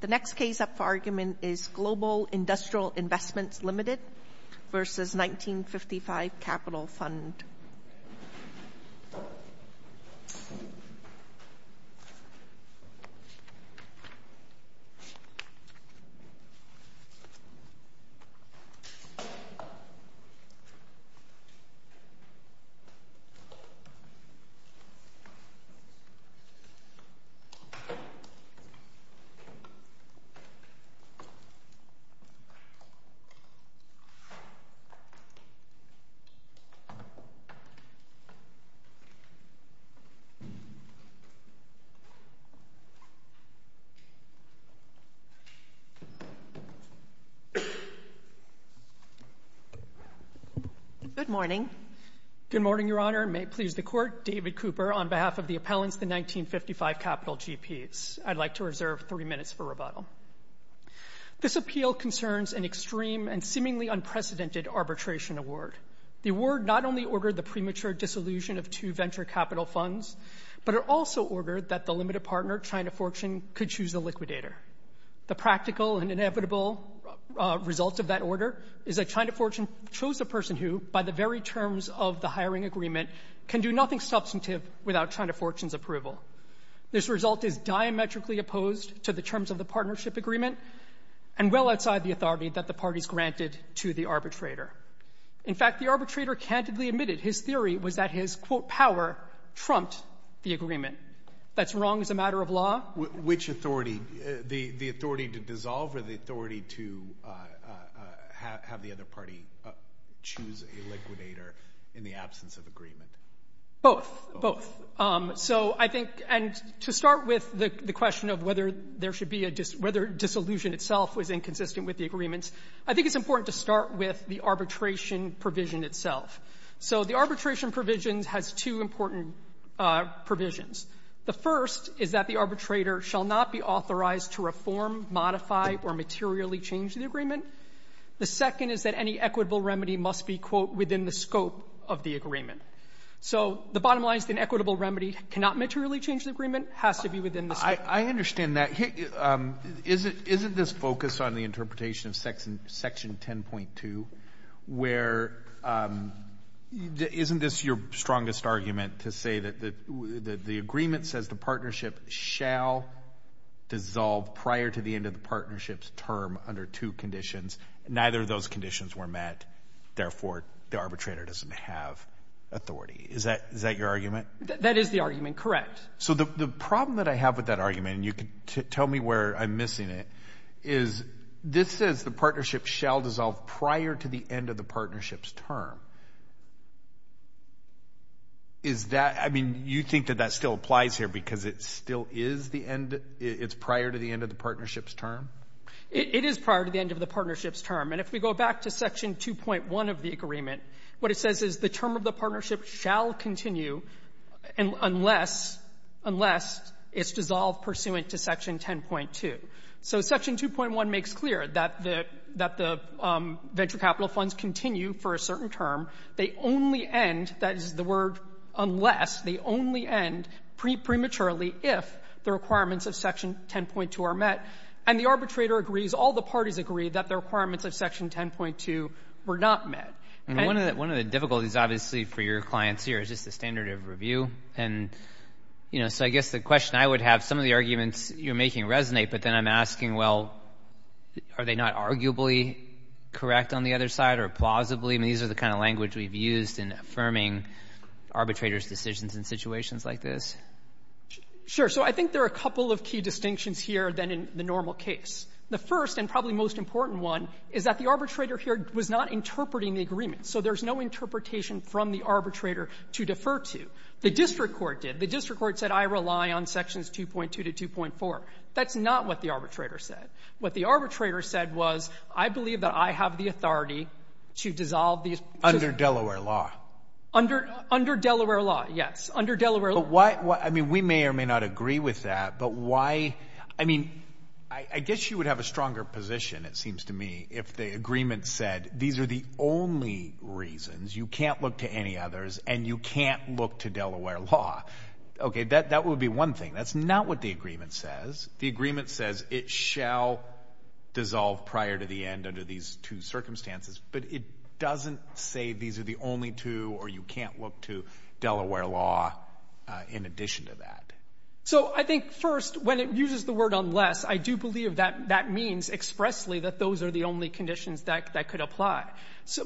The next case up for argument is Global Industrial Investment Limited v. 1955 Capital Fund Good morning. Good morning, Your Honor. May it please the Court, David Cooper on behalf of the appellants, the 1955 Capital GPs. I'd like to reserve three minutes for rebuttal. This appeal concerns an extreme and seemingly unprecedented arbitration award. The award not only ordered the premature dissolution of two venture capital funds, but it also ordered that the limited partner, China Fortune, could choose the liquidator. The practical and inevitable result of that order is that China Fortune chose a person who, by the very terms of the hiring agreement, can do nothing substantive without China Fortune's approval. This result is diametrically opposed to the terms of the partnership agreement and well outside the authority that the parties granted to the arbitrator. In fact, the arbitrator candidly admitted his theory was that his, quote, power trumped the agreement. That's wrong as a matter of law. Which authority? The authority to dissolve or the authority to have the other party choose a liquidator in the absence of agreement? Both. Both. So I think, and to start with the question of whether there should be a, whether dissolution itself was inconsistent with the agreements, I think it's important to start with the arbitration provision itself. So the arbitration provisions has two important provisions. The first is that the arbitrator shall not be authorized to reform, modify, or materially change the agreement. The second is that any equitable remedy must be, quote, within the scope of the agreement. So the bottom line is that an equitable remedy cannot materially change the agreement, has to be within the scope. I understand that. Isn't this focused on the interpretation of section 10.2 where, isn't this your strongest argument to say that the agreement says the partnership shall dissolve prior to the end of the partnership's term under two conditions, neither of those conditions were met, therefore the arbitrator doesn't have authority. Is that your argument? That is the argument, correct. So the problem that I have with that argument, and you can tell me where I'm missing it, is this says the partnership shall dissolve prior to the end of the partnership's term. Is that, I mean, you think that that still applies here because it still is the end, it's prior to the end of the partnership's term? It is prior to the end of the partnership's term. And if we go back to section 2.1 of the agreement, what it says is the term of the partnership shall continue unless, unless it's dissolved pursuant to section 10.2. So section 2.1 makes clear that the, that the venture capital funds continue for a certain term. They only end, that is the word unless, they only end prematurely if the requirements of section 10.2 are met, and the arbitrator agrees, all the parties agree that the requirements of section 10.2 were not met. And one of the, one of the difficulties, obviously, for your clients here is just the standard of review. And, you know, so I guess the question I would have, some of the arguments you're making resonate, but then I'm asking, well, are they not arguably correct on the other side or plausibly? I mean, these are the kind of language we've used in affirming arbitrator's decisions in situations like this. Sure. So I think there are a couple of key distinctions here than in the normal case. The first and probably most important one is that the arbitrator here was not interpreting the agreement. So there's no interpretation from the arbitrator to defer to. The district court did. The district court said, I rely on sections 2.2 to 2.4. That's not what the arbitrator said. What the arbitrator said was, I believe that I have the authority to dissolve these. Under Delaware law. Under, under Delaware law, yes. Under Delaware law. But why, I mean, we may or may not agree with that, but why, I mean, I guess you would have a stronger position, it seems to me, if the agreement said these are the only reasons you can't look to any others and you can't look to Delaware law. OK, that that would be one thing. That's not what the agreement says. The agreement says it shall dissolve prior to the end under these two circumstances. But it doesn't say these are the only two or you can't look to Delaware law in addition to that. So I think, first, when it uses the word unless, I do believe that that means expressly that those are the only conditions that could apply.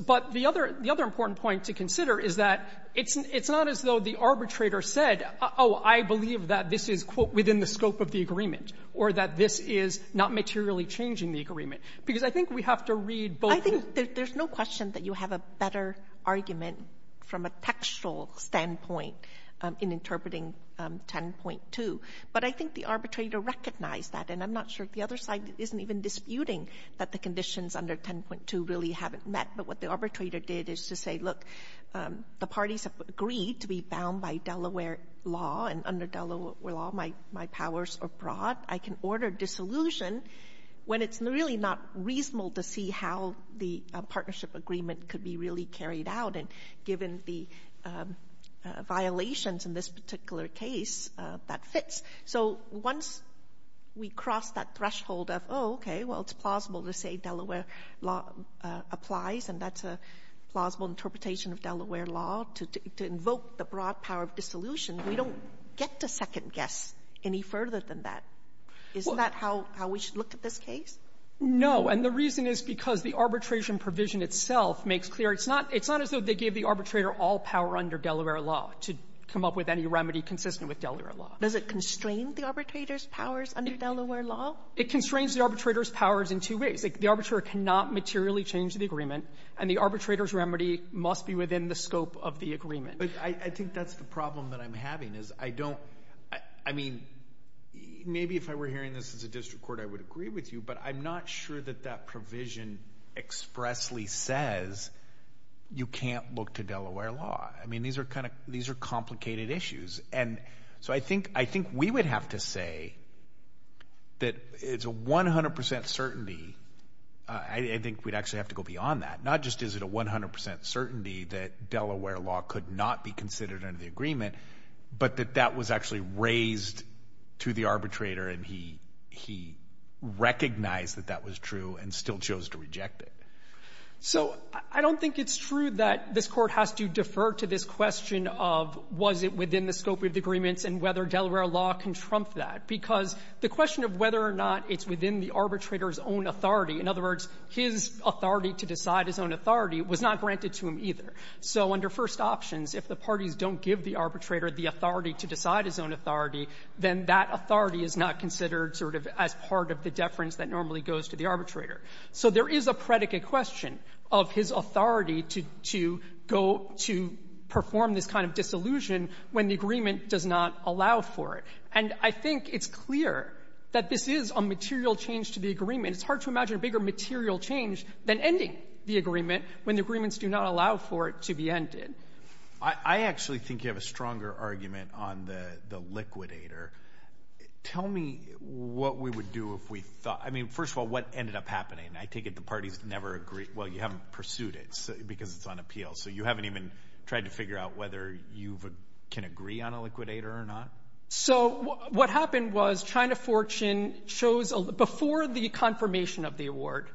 But the other important point to consider is that it's not as though the arbitrator said, oh, I believe that this is, quote, within the scope of the agreement, or that this is not materially changing the agreement. Because I think we have to read both the ---- Sotomayor, I think there's no question that you have a better argument from a textual standpoint in interpreting 10.2. But I think the arbitrator recognized that. And I'm not sure if the other side isn't even disputing that the conditions under 10.2 really haven't met. But what the arbitrator did is to say, look, the parties have agreed to be bound by Delaware law. And under Delaware law, my powers are broad. I can order dissolution when it's really not reasonable to see how the partnership agreement could be really carried out. And given the violations in this particular case, that fits. So once we cross that threshold of, oh, okay, well, it's plausible to say Delaware law applies, and that's a plausible interpretation of Delaware law to invoke the broad power of dissolution, we don't get to second-guess any further than that. Isn't that how we should look at this case? No. And the reason is because the arbitration provision itself makes clear it's not as So they gave the arbitrator all power under Delaware law to come up with any remedy consistent with Delaware law. Does it constrain the arbitrator's powers under Delaware law? It constrains the arbitrator's powers in two ways. The arbitrator cannot materially change the agreement, and the arbitrator's remedy must be within the scope of the agreement. But I think that's the problem that I'm having, is I don't — I mean, maybe if I were hearing this as a district court, I would agree with you, but I'm not sure that that provision expressly says you can't look to Delaware law. I mean, these are kind of — these are complicated issues. And so I think we would have to say that it's a 100 percent certainty — I think we'd actually have to go beyond that. Not just is it a 100 percent certainty that Delaware law could not be considered under the agreement, but that that was actually raised to the arbitrator, and he recognized that that was true and still chose to reject it. So I don't think it's true that this Court has to defer to this question of was it within the scope of the agreements and whether Delaware law can trump that, because the question of whether or not it's within the arbitrator's own authority, in other words, his authority to decide his own authority, was not granted to him either. So under first options, if the parties don't give the arbitrator the authority to decide his own authority, then that authority is not considered sort of as part of the deference that normally goes to the arbitrator. So there is a predicate question of his authority to go to perform this kind of disillusion when the agreement does not allow for it. And I think it's clear that this is a material change to the agreement. It's hard to imagine a bigger material change than ending the agreement when the agreements do not allow for it to be ended. I actually think you have a stronger argument on the liquidator. Tell me what we would do if we thought, I mean, first of all, what ended up happening? I take it the parties never agreed, well, you haven't pursued it because it's on appeal. So you haven't even tried to figure out whether you can agree on a liquidator or not? So what happened was China Fortune chose, before the confirmation of the award,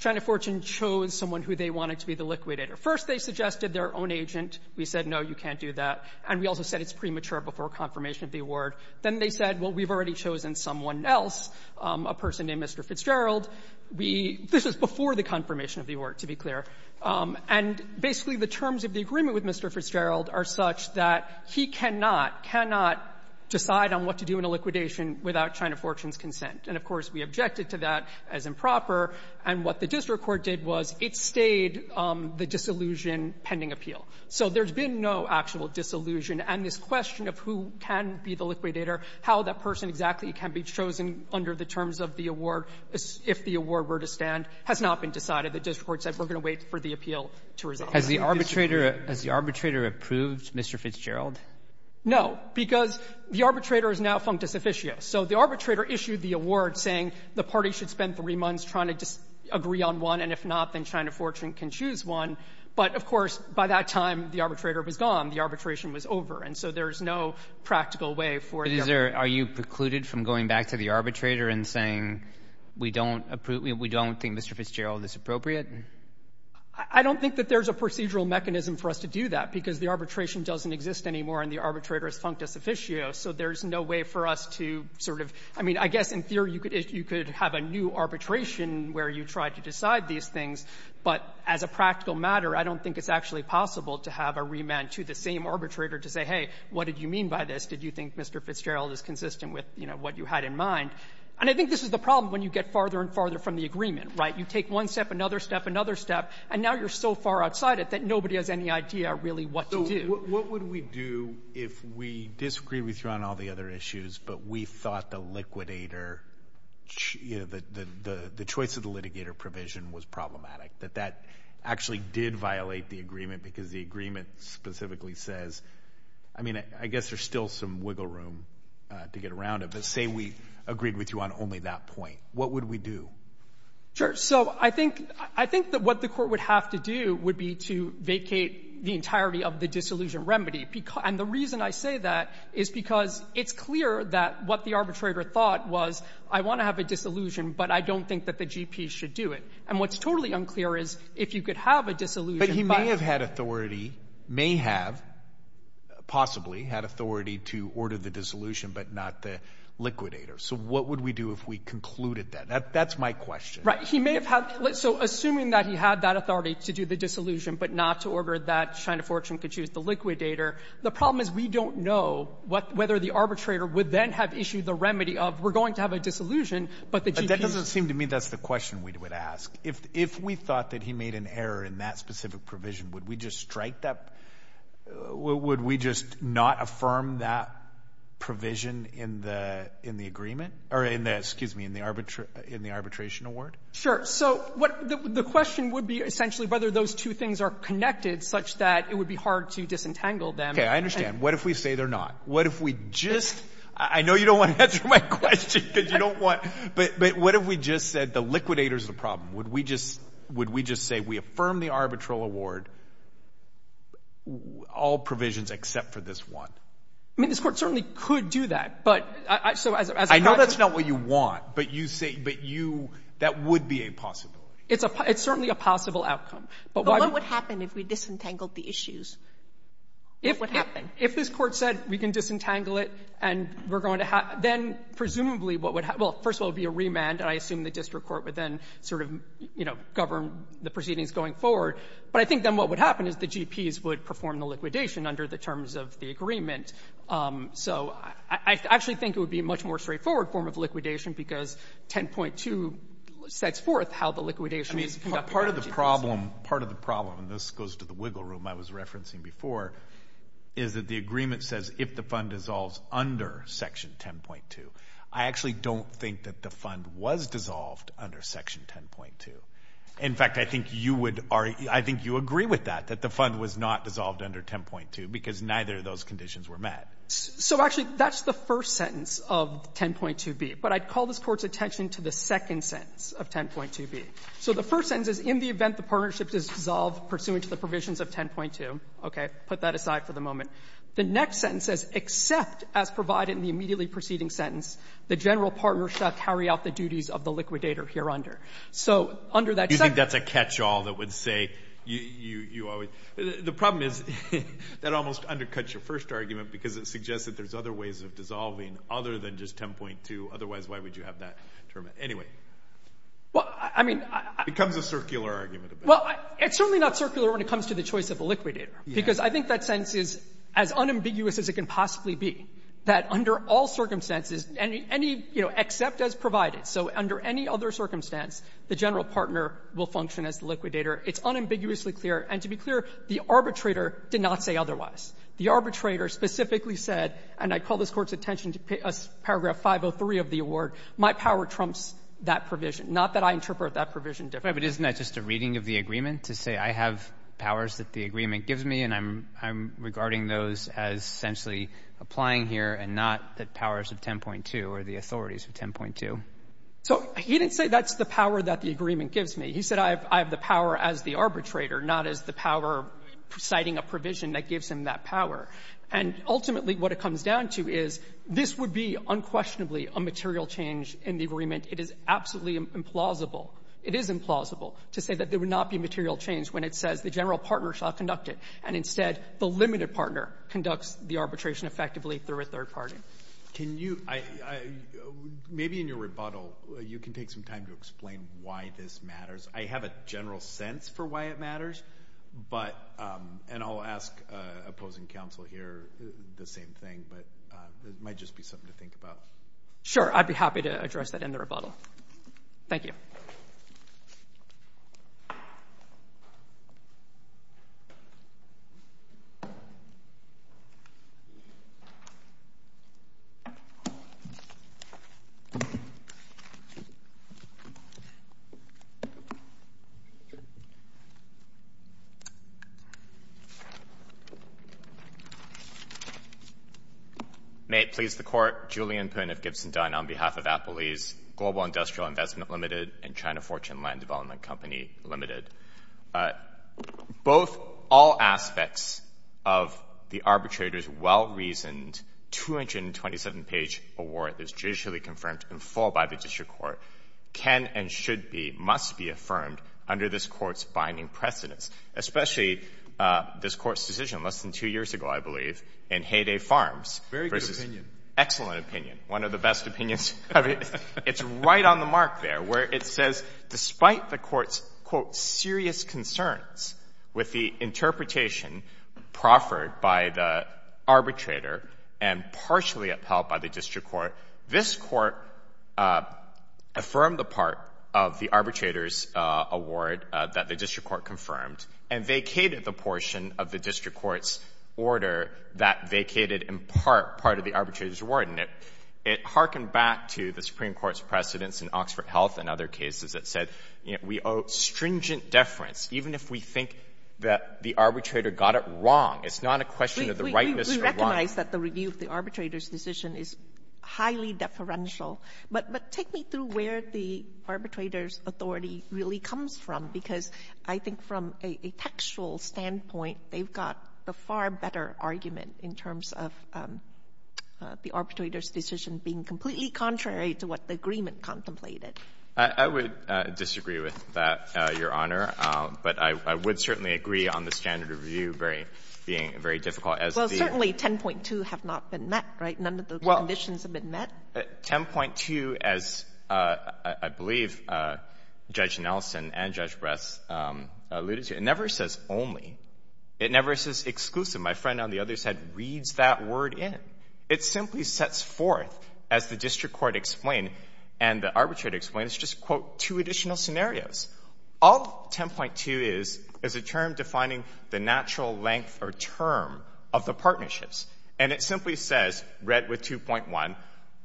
China Fortune chose someone who they wanted to be the liquidator. First, they suggested their own agent. We said, no, you can't do that. And we also said it's premature before confirmation of the award. Then they said, well, we've already chosen someone else, a person named Mr. Fitzgerald. We — this is before the confirmation of the award, to be clear. And basically, the terms of the agreement with Mr. Fitzgerald are such that he cannot, cannot decide on what to do in a liquidation without China Fortune's consent. And, of course, we objected to that as improper. And what the district court did was it stayed the disillusion pending appeal. So there's been no actual disillusion. And this question of who can be the liquidator, how that person exactly can be chosen under the terms of the award, if the award were to stand, has not been decided. The district court said we're going to wait for the appeal to result. Has the arbitrator — has the arbitrator approved Mr. Fitzgerald? No, because the arbitrator is now functus officio. So the arbitrator issued the award saying the party should spend three months trying to agree on one, and if not, then China Fortune can choose one. But, of course, by that time, the arbitrator was gone. The arbitration was over. And so there's no practical way for the — But is there — are you precluded from going back to the arbitrator and saying we don't approve — we don't think Mr. Fitzgerald is appropriate? I don't think that there's a procedural mechanism for us to do that, because the arbitration doesn't exist anymore, and the arbitrator is functus officio. So there's no way for us to sort of — I mean, I guess in theory, you could — you could have a new arbitration where you tried to decide these things. But as a practical matter, I don't think it's actually possible to have a remand to the same arbitrator to say, hey, what did you mean by this? Did you think Mr. Fitzgerald is consistent with, you know, what you had in mind? And I think this is the problem when you get farther and farther from the agreement, right? You take one step, another step, another step, and now you're so far outside it that nobody has any idea really what to do. So what would we do if we disagree with you on all the other issues, but we thought the liquidator — you know, the choice of the litigator provision was problematic? That that actually did violate the agreement because the agreement specifically says — I mean, I guess there's still some wiggle room to get around it. But say we agreed with you on only that point. What would we do? Sure. So I think — I think that what the court would have to do would be to vacate the entirety of the disillusion remedy. And the reason I say that is because it's clear that what the arbitrator thought was, I want to have a disillusion, but I don't think that the GP should do it. And what's totally unclear is if you could have a disillusion — But he may have had authority — may have possibly had authority to order the disillusion, but not the liquidator. So what would we do if we concluded that? That's my question. Right. He may have had — so assuming that he had that authority to do the disillusion, but not to order that China Fortune could choose the liquidator, the problem is we don't know what — whether the arbitrator would then have issued the remedy of, we're going to have a disillusion, but the GP — That doesn't seem to me that's the question we would ask. If we thought that he made an error in that specific provision, would we just strike that — would we just not affirm that provision in the agreement? Or in the — excuse me, in the arbitration award? Sure. So what — the question would be essentially whether those two things are connected such that it would be hard to disentangle them. Okay, I understand. What if we say they're not? What if we just — I know you don't want to answer my question because you don't want — but what if we just said the liquidator's the problem? Would we just — would we just say we affirm the arbitral award, all provisions except for this one? I mean, this Court certainly could do that, but — so as a — I know that's not what you want, but you say — but you — that would be a possibility. It's a — it's certainly a possible outcome, but — But what would happen if we disentangled the issues? If — What would happen? If this Court said we can disentangle it and we're going to — then presumably what would — well, first of all, it would be a remand, and I assume the District Court would then sort of, you know, govern the proceedings going forward. But I think then what would happen is the GPs would perform the liquidation under the terms of the agreement. So I actually think it would be a much more straightforward form of liquidation because 10.2 sets forth how the liquidation is conducted by the GPs. I mean, part of the problem — part of the problem — and this goes to the wiggle room I was referencing before — is that the agreement says if the fund dissolves under Section 10.2, I actually don't think that the fund was dissolved under Section 10.2. In fact, I think you would — I think you agree with that, that the fund was not dissolved under 10.2 because neither of those conditions were met. So actually, that's the first sentence of 10.2b. But I'd call this Court's attention to the second sentence of 10.2b. So the first sentence is, in the event the partnership is dissolved pursuant to the provisions of 10.2 — okay, put that aside for the moment — the next sentence says, except as provided in the immediately preceding sentence, the general partnership carry out the duties of the liquidator hereunder. So under that — You think that's a catch-all that would say you always — the problem is that almost undercuts your first argument because it suggests that there's other ways of dissolving other than just 10.2. Otherwise, why would you have that term? Anyway. Well, I mean — It becomes a circular argument a bit. Well, it's certainly not circular when it comes to the choice of a liquidator because I think that sentence is as unambiguous as it can possibly be, that under all circumstances, any — you know, except as provided. So under any other circumstance, the general partner will function as the liquidator. It's unambiguously clear. And to be clear, the arbitrator did not say otherwise. The arbitrator specifically said — and I call this Court's attention to paragraph 503 of the award — my power trumps that provision, not that I interpret that provision differently. But isn't that just a reading of the agreement, to say I have powers that the agreement gives me and I'm — I'm regarding those as essentially applying here and not the powers of 10.2 or the authorities of 10.2? So he didn't say that's the power that the agreement gives me. He said I have — I have the power as the arbitrator, not as the power citing a provision that gives him that power. And ultimately, what it comes down to is this would be unquestionably a material change in the agreement. It is absolutely implausible. It is implausible to say that there would not be material change when it says the general partner shall conduct it, and instead the limited partner conducts the arbitration effectively through a third party. Can you — maybe in your rebuttal, you can take some time to explain why this matters. I have a general sense for why it matters, but — and I'll ask opposing counsel here the same thing, but it might just be something to think about. Sure. I'd be happy to address that in the rebuttal. Thank you. Thank you. May it please the Court, Julian Poon of Gibson Dine on behalf of Apple East, Global Industrial Investment Limited, and China Fortune Land Development Company Limited. Both — all aspects of the arbitrator's well-reasoned 227-page award that is judicially confirmed in full by the district court can and should be — must be affirmed under this Court's binding precedence, especially this Court's decision less than two years ago, I believe, in Hay Day Farms — Very good opinion. — versus — excellent opinion. One of the best opinions — It's right on the mark there, where it says, despite the Court's, quote, serious concerns with the interpretation proffered by the arbitrator and partially upheld by the district court, this Court affirmed the part of the arbitrator's award that the district court confirmed and vacated the portion of the district court's order that vacated in part part of the arbitrator's award. And it — it hearkened back to the Supreme Court's precedence in Oxford Health and other cases that said, you know, we owe stringent deference, even if we think that the arbitrator got it wrong. It's not a question of the rightness or wrong. We — we recognize that the review of the arbitrator's decision is highly deferential. But take me through where the arbitrator's authority really comes from, because I think from a textual standpoint, they've got a far better argument in terms of the arbitrator's decision being completely contrary to what the agreement contemplated. I would disagree with that, Your Honor. But I would certainly agree on the standard of review very — being very difficult as the — Well, certainly 10.2 have not been met, right? None of the conditions have been met. 10.2, as I believe Judge Nelson and Judge Bress alluded to, it never says only. It never says exclusive. My friend on the other side reads that word in. It simply sets forth, as the district court explained and the arbitrator explained, it's just, quote, two additional scenarios. All 10.2 is is a term defining the natural length or term of the partnerships. And it simply says, read with 2.1,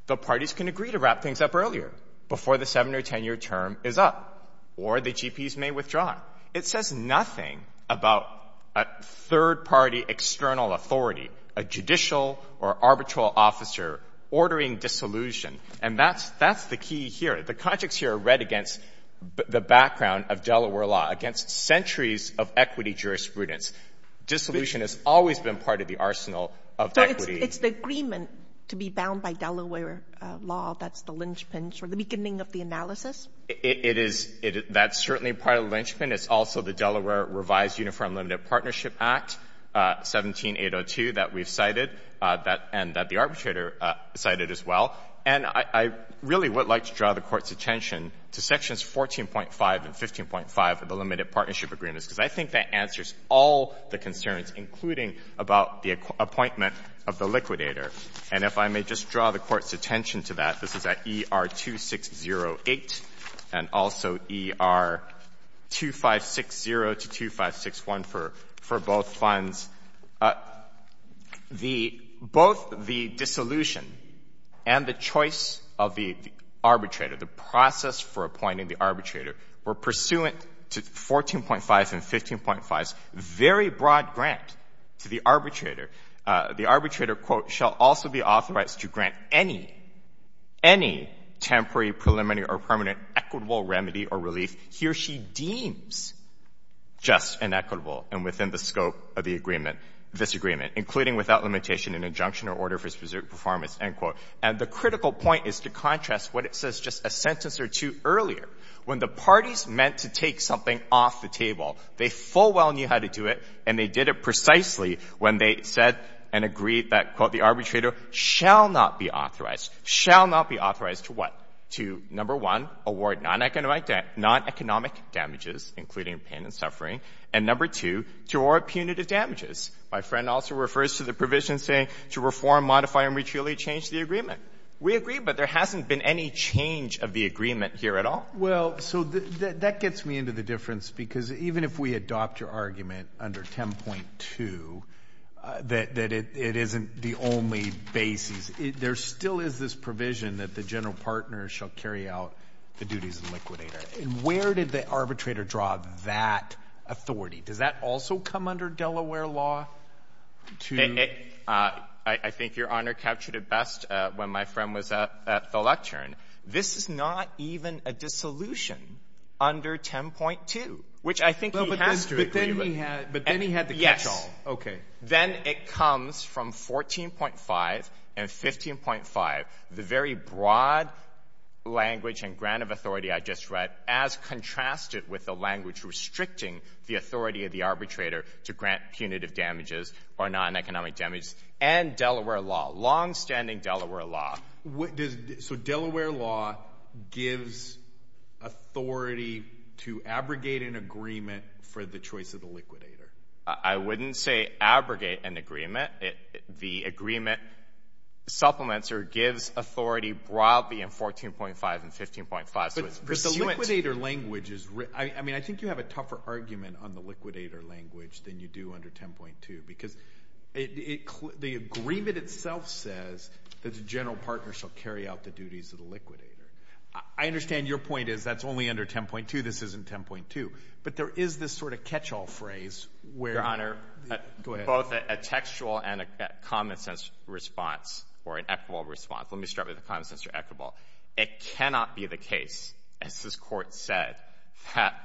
the parties can agree to wrap things up earlier before the 7- or 10-year term is up, or the GPs may withdraw. It says nothing about a third-party external authority, a judicial or arbitral officer ordering dissolution. And that's — that's the key here. The conjectures here are read against the background of Delaware law, against centuries of equity jurisprudence. Dissolution has always been part of the arsenal of equity. Sotomayor, it's the agreement to be bound by Delaware law that's the linchpin for the beginning of the analysis? It is. That's certainly part of the linchpin. It's also the Delaware Revised Uniform Limited Partnership Act, 17802, that we've cited, that — and that the arbitrator cited as well. And I really would like to draw the Court's attention to Sections 14.5 and 15.5 of the concerns, including about the appointment of the liquidator. And if I may just draw the Court's attention to that, this is at ER-2608, and also ER-2560 to 2561 for — for both funds. The — both the dissolution and the choice of the arbitrator, the process for appointing the arbitrator, were pursuant to 14.5 and 15.5's very broad grant to the arbitrator. The arbitrator, quote, shall also be authorized to grant any — any temporary, preliminary, or permanent equitable remedy or relief he or she deems just and equitable and within the scope of the agreement — this agreement, including without limitation an injunction or order for specific performance, end quote. And the critical point is to contrast what it says just a sentence or two earlier. When the parties meant to take something off the table, they full well knew how to do it, and they did it precisely when they said and agreed that, quote, the arbitrator shall not be authorized — shall not be authorized to what? To, number one, award non-economic damages, including pain and suffering, and, number two, to award punitive damages. My friend also refers to the provision saying to reform, modify, and mutually change the agreement. We agree, but there hasn't been any change of the agreement here at all. Well, so that gets me into the difference, because even if we adopt your argument under 10.2 that it isn't the only basis, there still is this provision that the general partner shall carry out the duties of liquidator. And where did the arbitrator draw that authority? Does that also come under Delaware law to — I think Your Honor captured it best when my friend was at the lectern. This is not even a dissolution under 10.2, which I think he has to agree with. But then he had the catch-all. Yes. Okay. Then it comes from 14.5 and 15.5, the very broad language and grant of authority I just read as contrasted with the language restricting the authority of the arbitrator to grant punitive damages or non-economic damages and Delaware law, longstanding Delaware law. So Delaware law gives authority to abrogate an agreement for the choice of the liquidator? I wouldn't say abrogate an agreement. The agreement supplements or gives authority broadly in 14.5 and 15.5. But the liquidator language is — I mean, I think you have a tougher argument on the liquidator language than you do under 10.2, because the agreement itself says that the general partner shall carry out the duties of the liquidator. I understand your point is that's only under 10.2. This isn't 10.2. But there is this sort of catch-all phrase where — Your Honor — Go ahead. Both a textual and a common-sense response or an equitable response. Let me start with a common-sense or equitable. It cannot be the case, as this Court said, that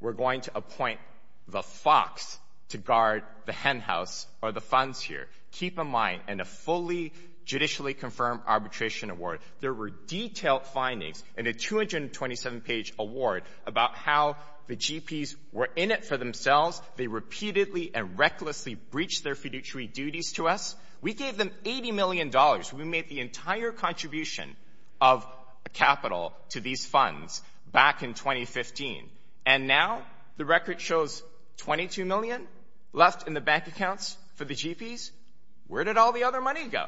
we're going to appoint the fox to guard the hen house or the funds here. Keep in mind, in a fully judicially confirmed arbitration award, there were detailed findings in a 227-page award about how the GPs were in it for themselves. They repeatedly and recklessly breached their fiduciary duties to us. We gave them $80 million. We made the entire contribution of capital to these funds back in 2015. And now the record shows $22 million left in the bank accounts for the GPs? Where did all the other money go?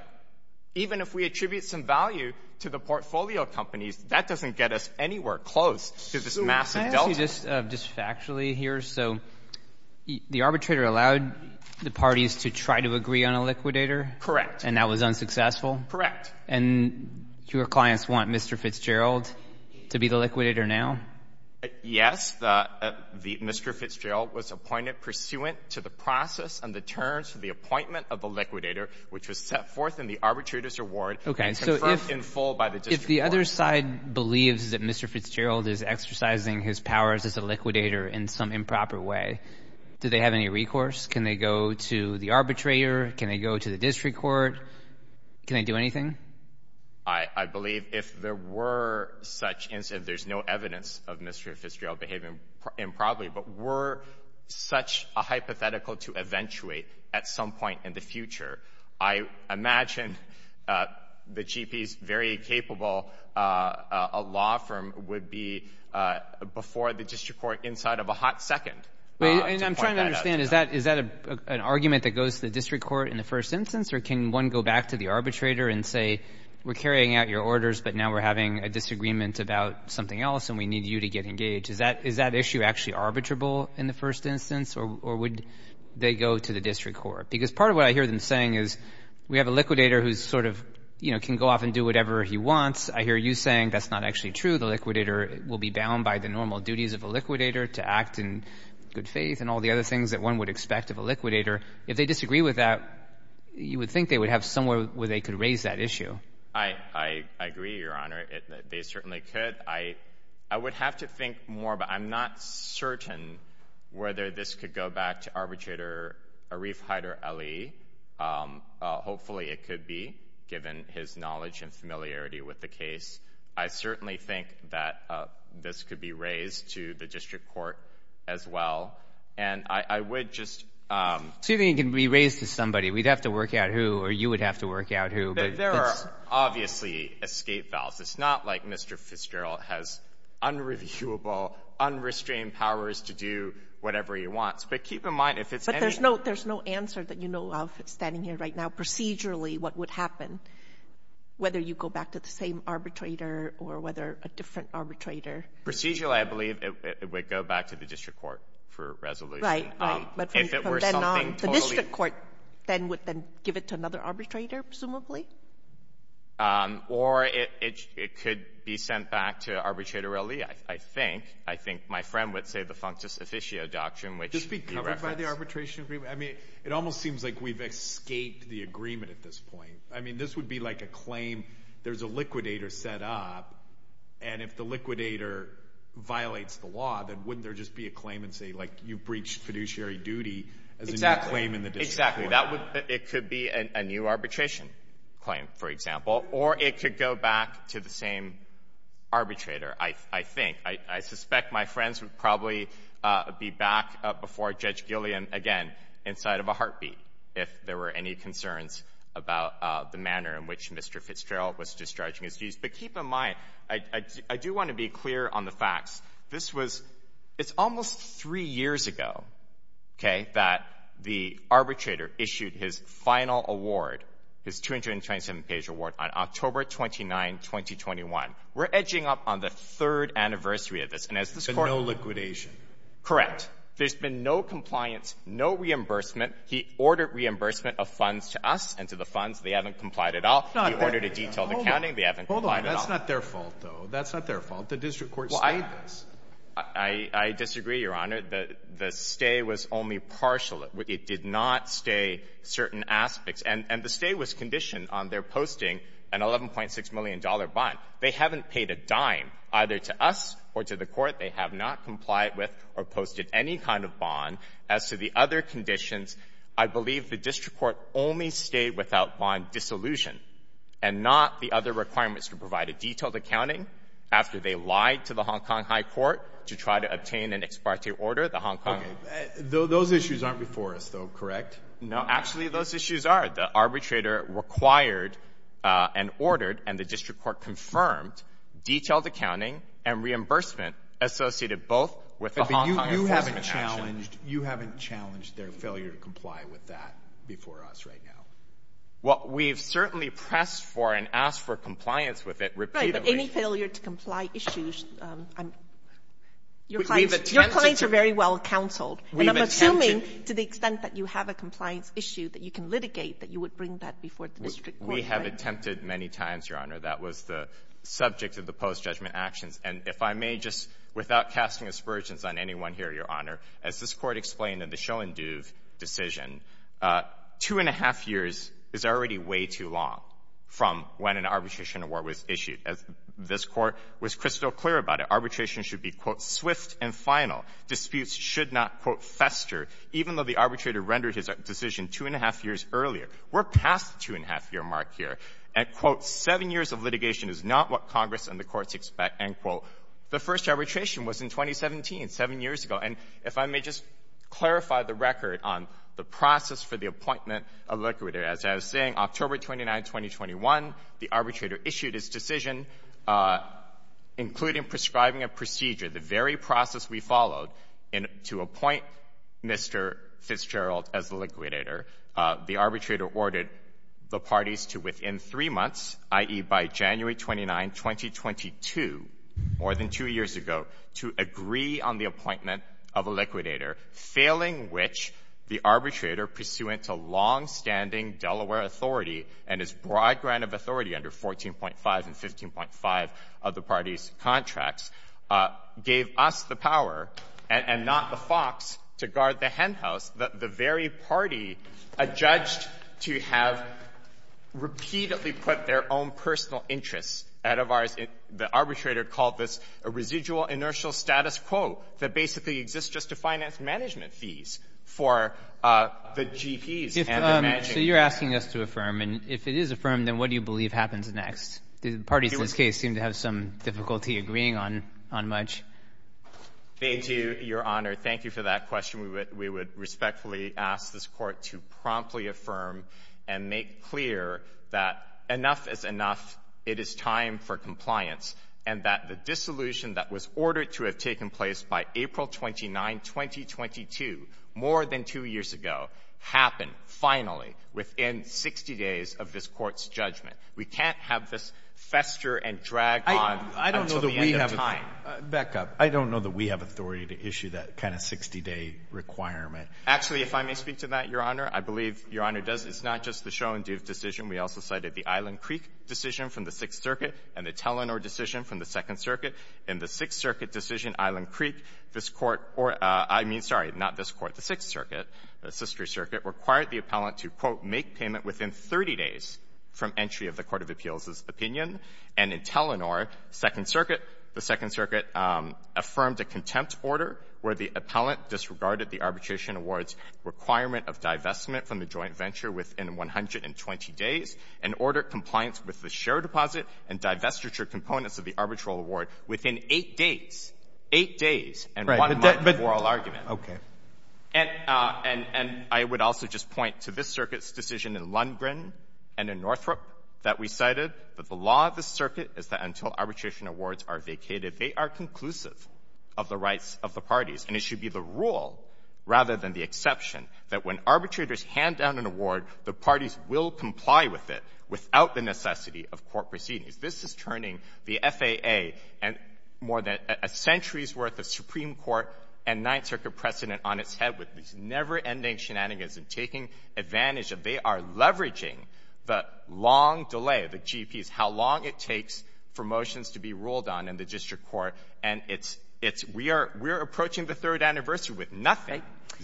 Even if we attribute some value to the portfolio companies, that doesn't get us anywhere close to this massive delta. Mr. Fitzgerald? Just factually here. So the arbitrator allowed the parties to try to agree on a liquidator? Correct. And that was unsuccessful? Correct. And your clients want Mr. Fitzgerald to be the liquidator now? Yes. Mr. Fitzgerald was appointed pursuant to the process and the terms of the appointment of the liquidator, which was set forth in the arbitrator's award and confirmed in full by the district court. The other side believes that Mr. Fitzgerald is exercising his powers as a liquidator in some improper way. Do they have any recourse? Can they go to the arbitrator? Can they go to the district court? Can they do anything? I believe if there were such incidents, there's no evidence of Mr. Fitzgerald behaving improperly, but were such a hypothetical to eventuate at some point in the future. I imagine the GPs very capable, a law firm would be before the district court inside of a hot second. And I'm trying to understand, is that an argument that goes to the district court in the first instance? Or can one go back to the arbitrator and say, we're carrying out your orders, but now we're having a disagreement about something else and we need you to get engaged? Is that issue actually arbitrable in the first instance? Or would they go to the district court? Because part of what I hear them saying is, we have a liquidator who's sort of, you know, can go off and do whatever he wants. I hear you saying that's not actually true. The liquidator will be bound by the normal duties of a liquidator to act in good faith and all the other things that one would expect of a liquidator. If they disagree with that, you would think they would have somewhere where they could raise that issue. I agree, Your Honor. They certainly could. I would have to think more, but I'm not certain whether this could go back to arbitrator Arif Haider Ali. Hopefully it could be, given his knowledge and familiarity with the case. I certainly think that this could be raised to the district court as well. And I would just— So you think it can be raised to somebody. We'd have to work out who, or you would have to work out who. There are obviously escape vows. It's not like Mr. Fitzgerald has unreviewable, unrestrained powers to do whatever he wants. But keep in mind, if it's any— But there's no answer that you know of standing here right now. Procedurally, what would happen? Whether you go back to the same arbitrator or whether a different arbitrator— Procedurally, I believe it would go back to the district court for resolution. Right. But if it were something totally— But then on the district court, then would then give it to another arbitrator, presumably? Or it could be sent back to arbitrator Ali, I think. I think my friend would say the functus officio doctrine, which— Just be covered by the arbitration agreement. I mean, it almost seems like we've escaped the agreement at this point. I mean, this would be like a claim, there's a liquidator set up, and if the liquidator violates the law, then wouldn't there just be a claim and say, like, you breached fiduciary duty as a new claim in the district court? Exactly. It could be a new arbitration claim, for example, or it could go back to the same arbitrator, I think. I suspect my friends would probably be back before Judge Gilliam again inside of a heartbeat if there were any concerns about the manner in which Mr. Fitzgerald was discharging his duties. But keep in mind, I do want to be clear on the facts. This was — it's almost three years ago, okay, that the arbitrator issued his final award, his 227-page award, on October 29, 2021. We're edging up on the third anniversary of this. And as this Court — But no liquidation. Correct. There's been no compliance, no reimbursement. He ordered reimbursement of funds to us and to the funds. They haven't complied at all. He ordered a detailed accounting. They haven't complied at all. Hold on. That's not their fault, though. That's not their fault. The district court stated this. I disagree, Your Honor. The stay was only partial. It did not stay certain aspects. And the stay was conditioned on their posting an $11.6 million bond. They haven't paid a dime either to us or to the court. They have not complied with or posted any kind of bond. As to the other conditions, I believe the district court only stayed without bond dissolution and not the other requirements to provide a detailed accounting after they lied to the Hong Kong High Court to try to obtain an ex parte order. Okay. Those issues aren't before us, though, correct? No. Actually, those issues are. The arbitrator required and ordered, and the district court confirmed, detailed accounting and reimbursement associated both with the Hong Kong — But you haven't challenged — you haven't challenged their failure to comply with that before us right now. Well, we've certainly pressed for and asked for compliance with it repeatedly. Any failure to comply issues, I'm — your clients — your clients are very well counseled. We've attempted — And I'm assuming to the extent that you have a compliance issue that you can litigate that you would bring that before the district court, right? We have attempted many times, Your Honor. That was the subject of the post-judgment actions. And if I may, just without casting aspersions on anyone here, Your Honor, as this Court explained in the Schoenduve decision, two-and-a-half years is already too long from when an arbitration award was issued. As this Court was crystal clear about it, arbitration should be, quote, swift and final. Disputes should not, quote, fester, even though the arbitrator rendered his decision two-and-a-half years earlier. We're past the two-and-a-half-year mark here. And, quote, seven years of litigation is not what Congress and the courts expect, end quote. The first arbitration was in 2017, seven years ago. And if I may just clarify the record on the process for the appointment of liquidator. As I was saying, October 29, 2021, the arbitrator issued his decision, including prescribing a procedure, the very process we followed to appoint Mr. Fitzgerald as the liquidator. The arbitrator ordered the parties to, within three months, i.e., by January 29, 2022, more than two years ago, to agree on the appointment of a liquidator, failing which the arbitrator, pursuant to longstanding Delaware authority and his broad ground of authority under 14.5 and 15.5 of the parties' contracts, gave us the power and not the FOX to guard the hen house that the very party adjudged to have repeatedly put their own personal interests out of ours. The arbitrator called this a residual inertial status quo that basically exists just to finance management fees for the GPs and the managing party. So you're asking us to affirm. And if it is affirmed, then what do you believe happens next? The parties in this case seem to have some difficulty agreeing on much. Thank you, Your Honor. Thank you for that question. We would respectfully ask this Court to promptly affirm and make clear that enough is enough, it is time for compliance, and that the dissolution that was ordered to have taken place by April 29, 2022, more than two years ago, happened finally within 60 days of this Court's judgment. We can't have this fester and drag on until the end of time. Back up. I don't know that we have authority to issue that kind of 60-day requirement. Actually, if I may speak to that, Your Honor, I believe Your Honor does. It's not just the Schoen-Doof decision. We also cited the Island Creek decision from the Sixth Circuit and the Telenor decision from the Second Circuit. In the Sixth Circuit decision, Island Creek, this Court or — I mean, sorry, not this Court, the Sixth Circuit, the sister circuit, required the appellant to, quote, make payment within 30 days from entry of the court of appeals' opinion. And in Telenor, Second Circuit, the Second Circuit affirmed a contempt order where the appellant disregarded the arbitration award's requirement of divestment from the joint venture within 120 days and ordered compliance with the share deposit and divestiture components of the arbitral award within eight days. Eight days. And one month for all argument. But the — okay. And I would also just point to this Circuit's decision in Lundgren and in Northrop that we cited that the law of the Circuit is that until arbitration awards are vacated, they are conclusive of the rights of the parties. And it should be the rule, rather than the exception, that when arbitrators hand down an award, the parties will comply with it without the necessity of court proceedings. This is turning the FAA and more than a century's worth of Supreme Court and Ninth Circuit precedent on its head with these never-ending shenanigans and taking advantage of — they are leveraging the long delay, the GPs, how long it takes for motions to be ruled on in the district court. And it's — it's — we are — we are approaching Thank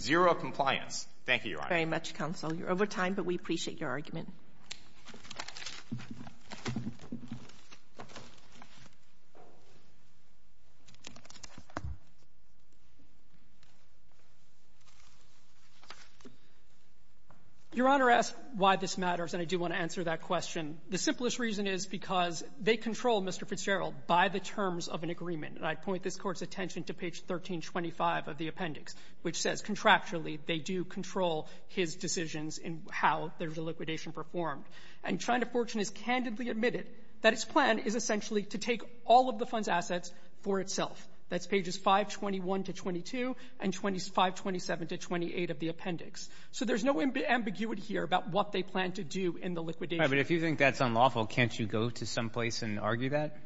you, Your Honor. very much, counsel. You're over time, but we appreciate your argument. Your Honor, I ask why this matters, and I do want to answer that question. The simplest reason is because they control Mr. Fitzgerald by the terms of an agreement. And I'd point this Court's attention to page 1325 of the appendix, which says contractually they do control his decisions in how there's a liquidation performed. And China Fortune has candidly admitted that its plan is essentially to take all of the fund's assets for itself. That's pages 521 to 22 and 527 to 28 of the appendix. So there's no ambiguity here about what they plan to do in the liquidation. But if you think that's unlawful, can't you go to someplace and argue that?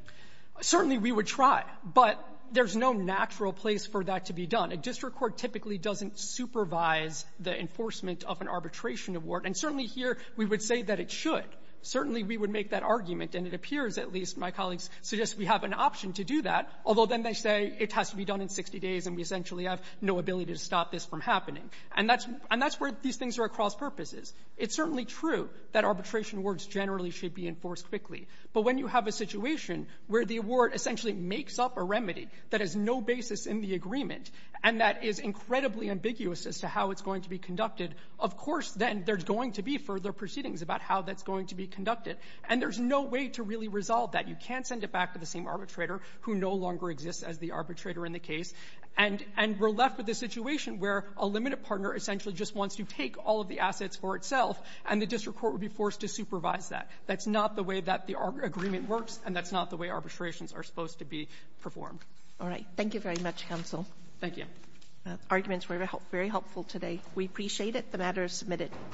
Certainly we would try, but there's no natural place for that to be done. A district court typically doesn't supervise the enforcement of an arbitration award. And certainly here we would say that it should. Certainly we would make that argument, and it appears, at least, my colleagues suggest we have an option to do that, although then they say it has to be done in 60 days, and we essentially have no ability to stop this from happening. And that's — and that's where these things are at cross purposes. It's certainly true that arbitration awards generally should be enforced quickly. But when you have a situation where the award essentially makes up a remedy that has no basis in the agreement, and that is incredibly ambiguous as to how it's going to be conducted, of course, then there's going to be further proceedings about how that's going to be conducted. And there's no way to really resolve that. You can't send it back to the same arbitrator who no longer exists as the arbitrator in the case. And — and we're left with a situation where a limited partner essentially just wants to take all of the assets for itself, and the district court would be forced to supervise that. That's not the way that the agreement works, and that's not the way arbitrations are supposed to be performed. All right. Thank you very much, counsel. Thank you. Arguments were very helpful today. We appreciate it. The matter is submitted.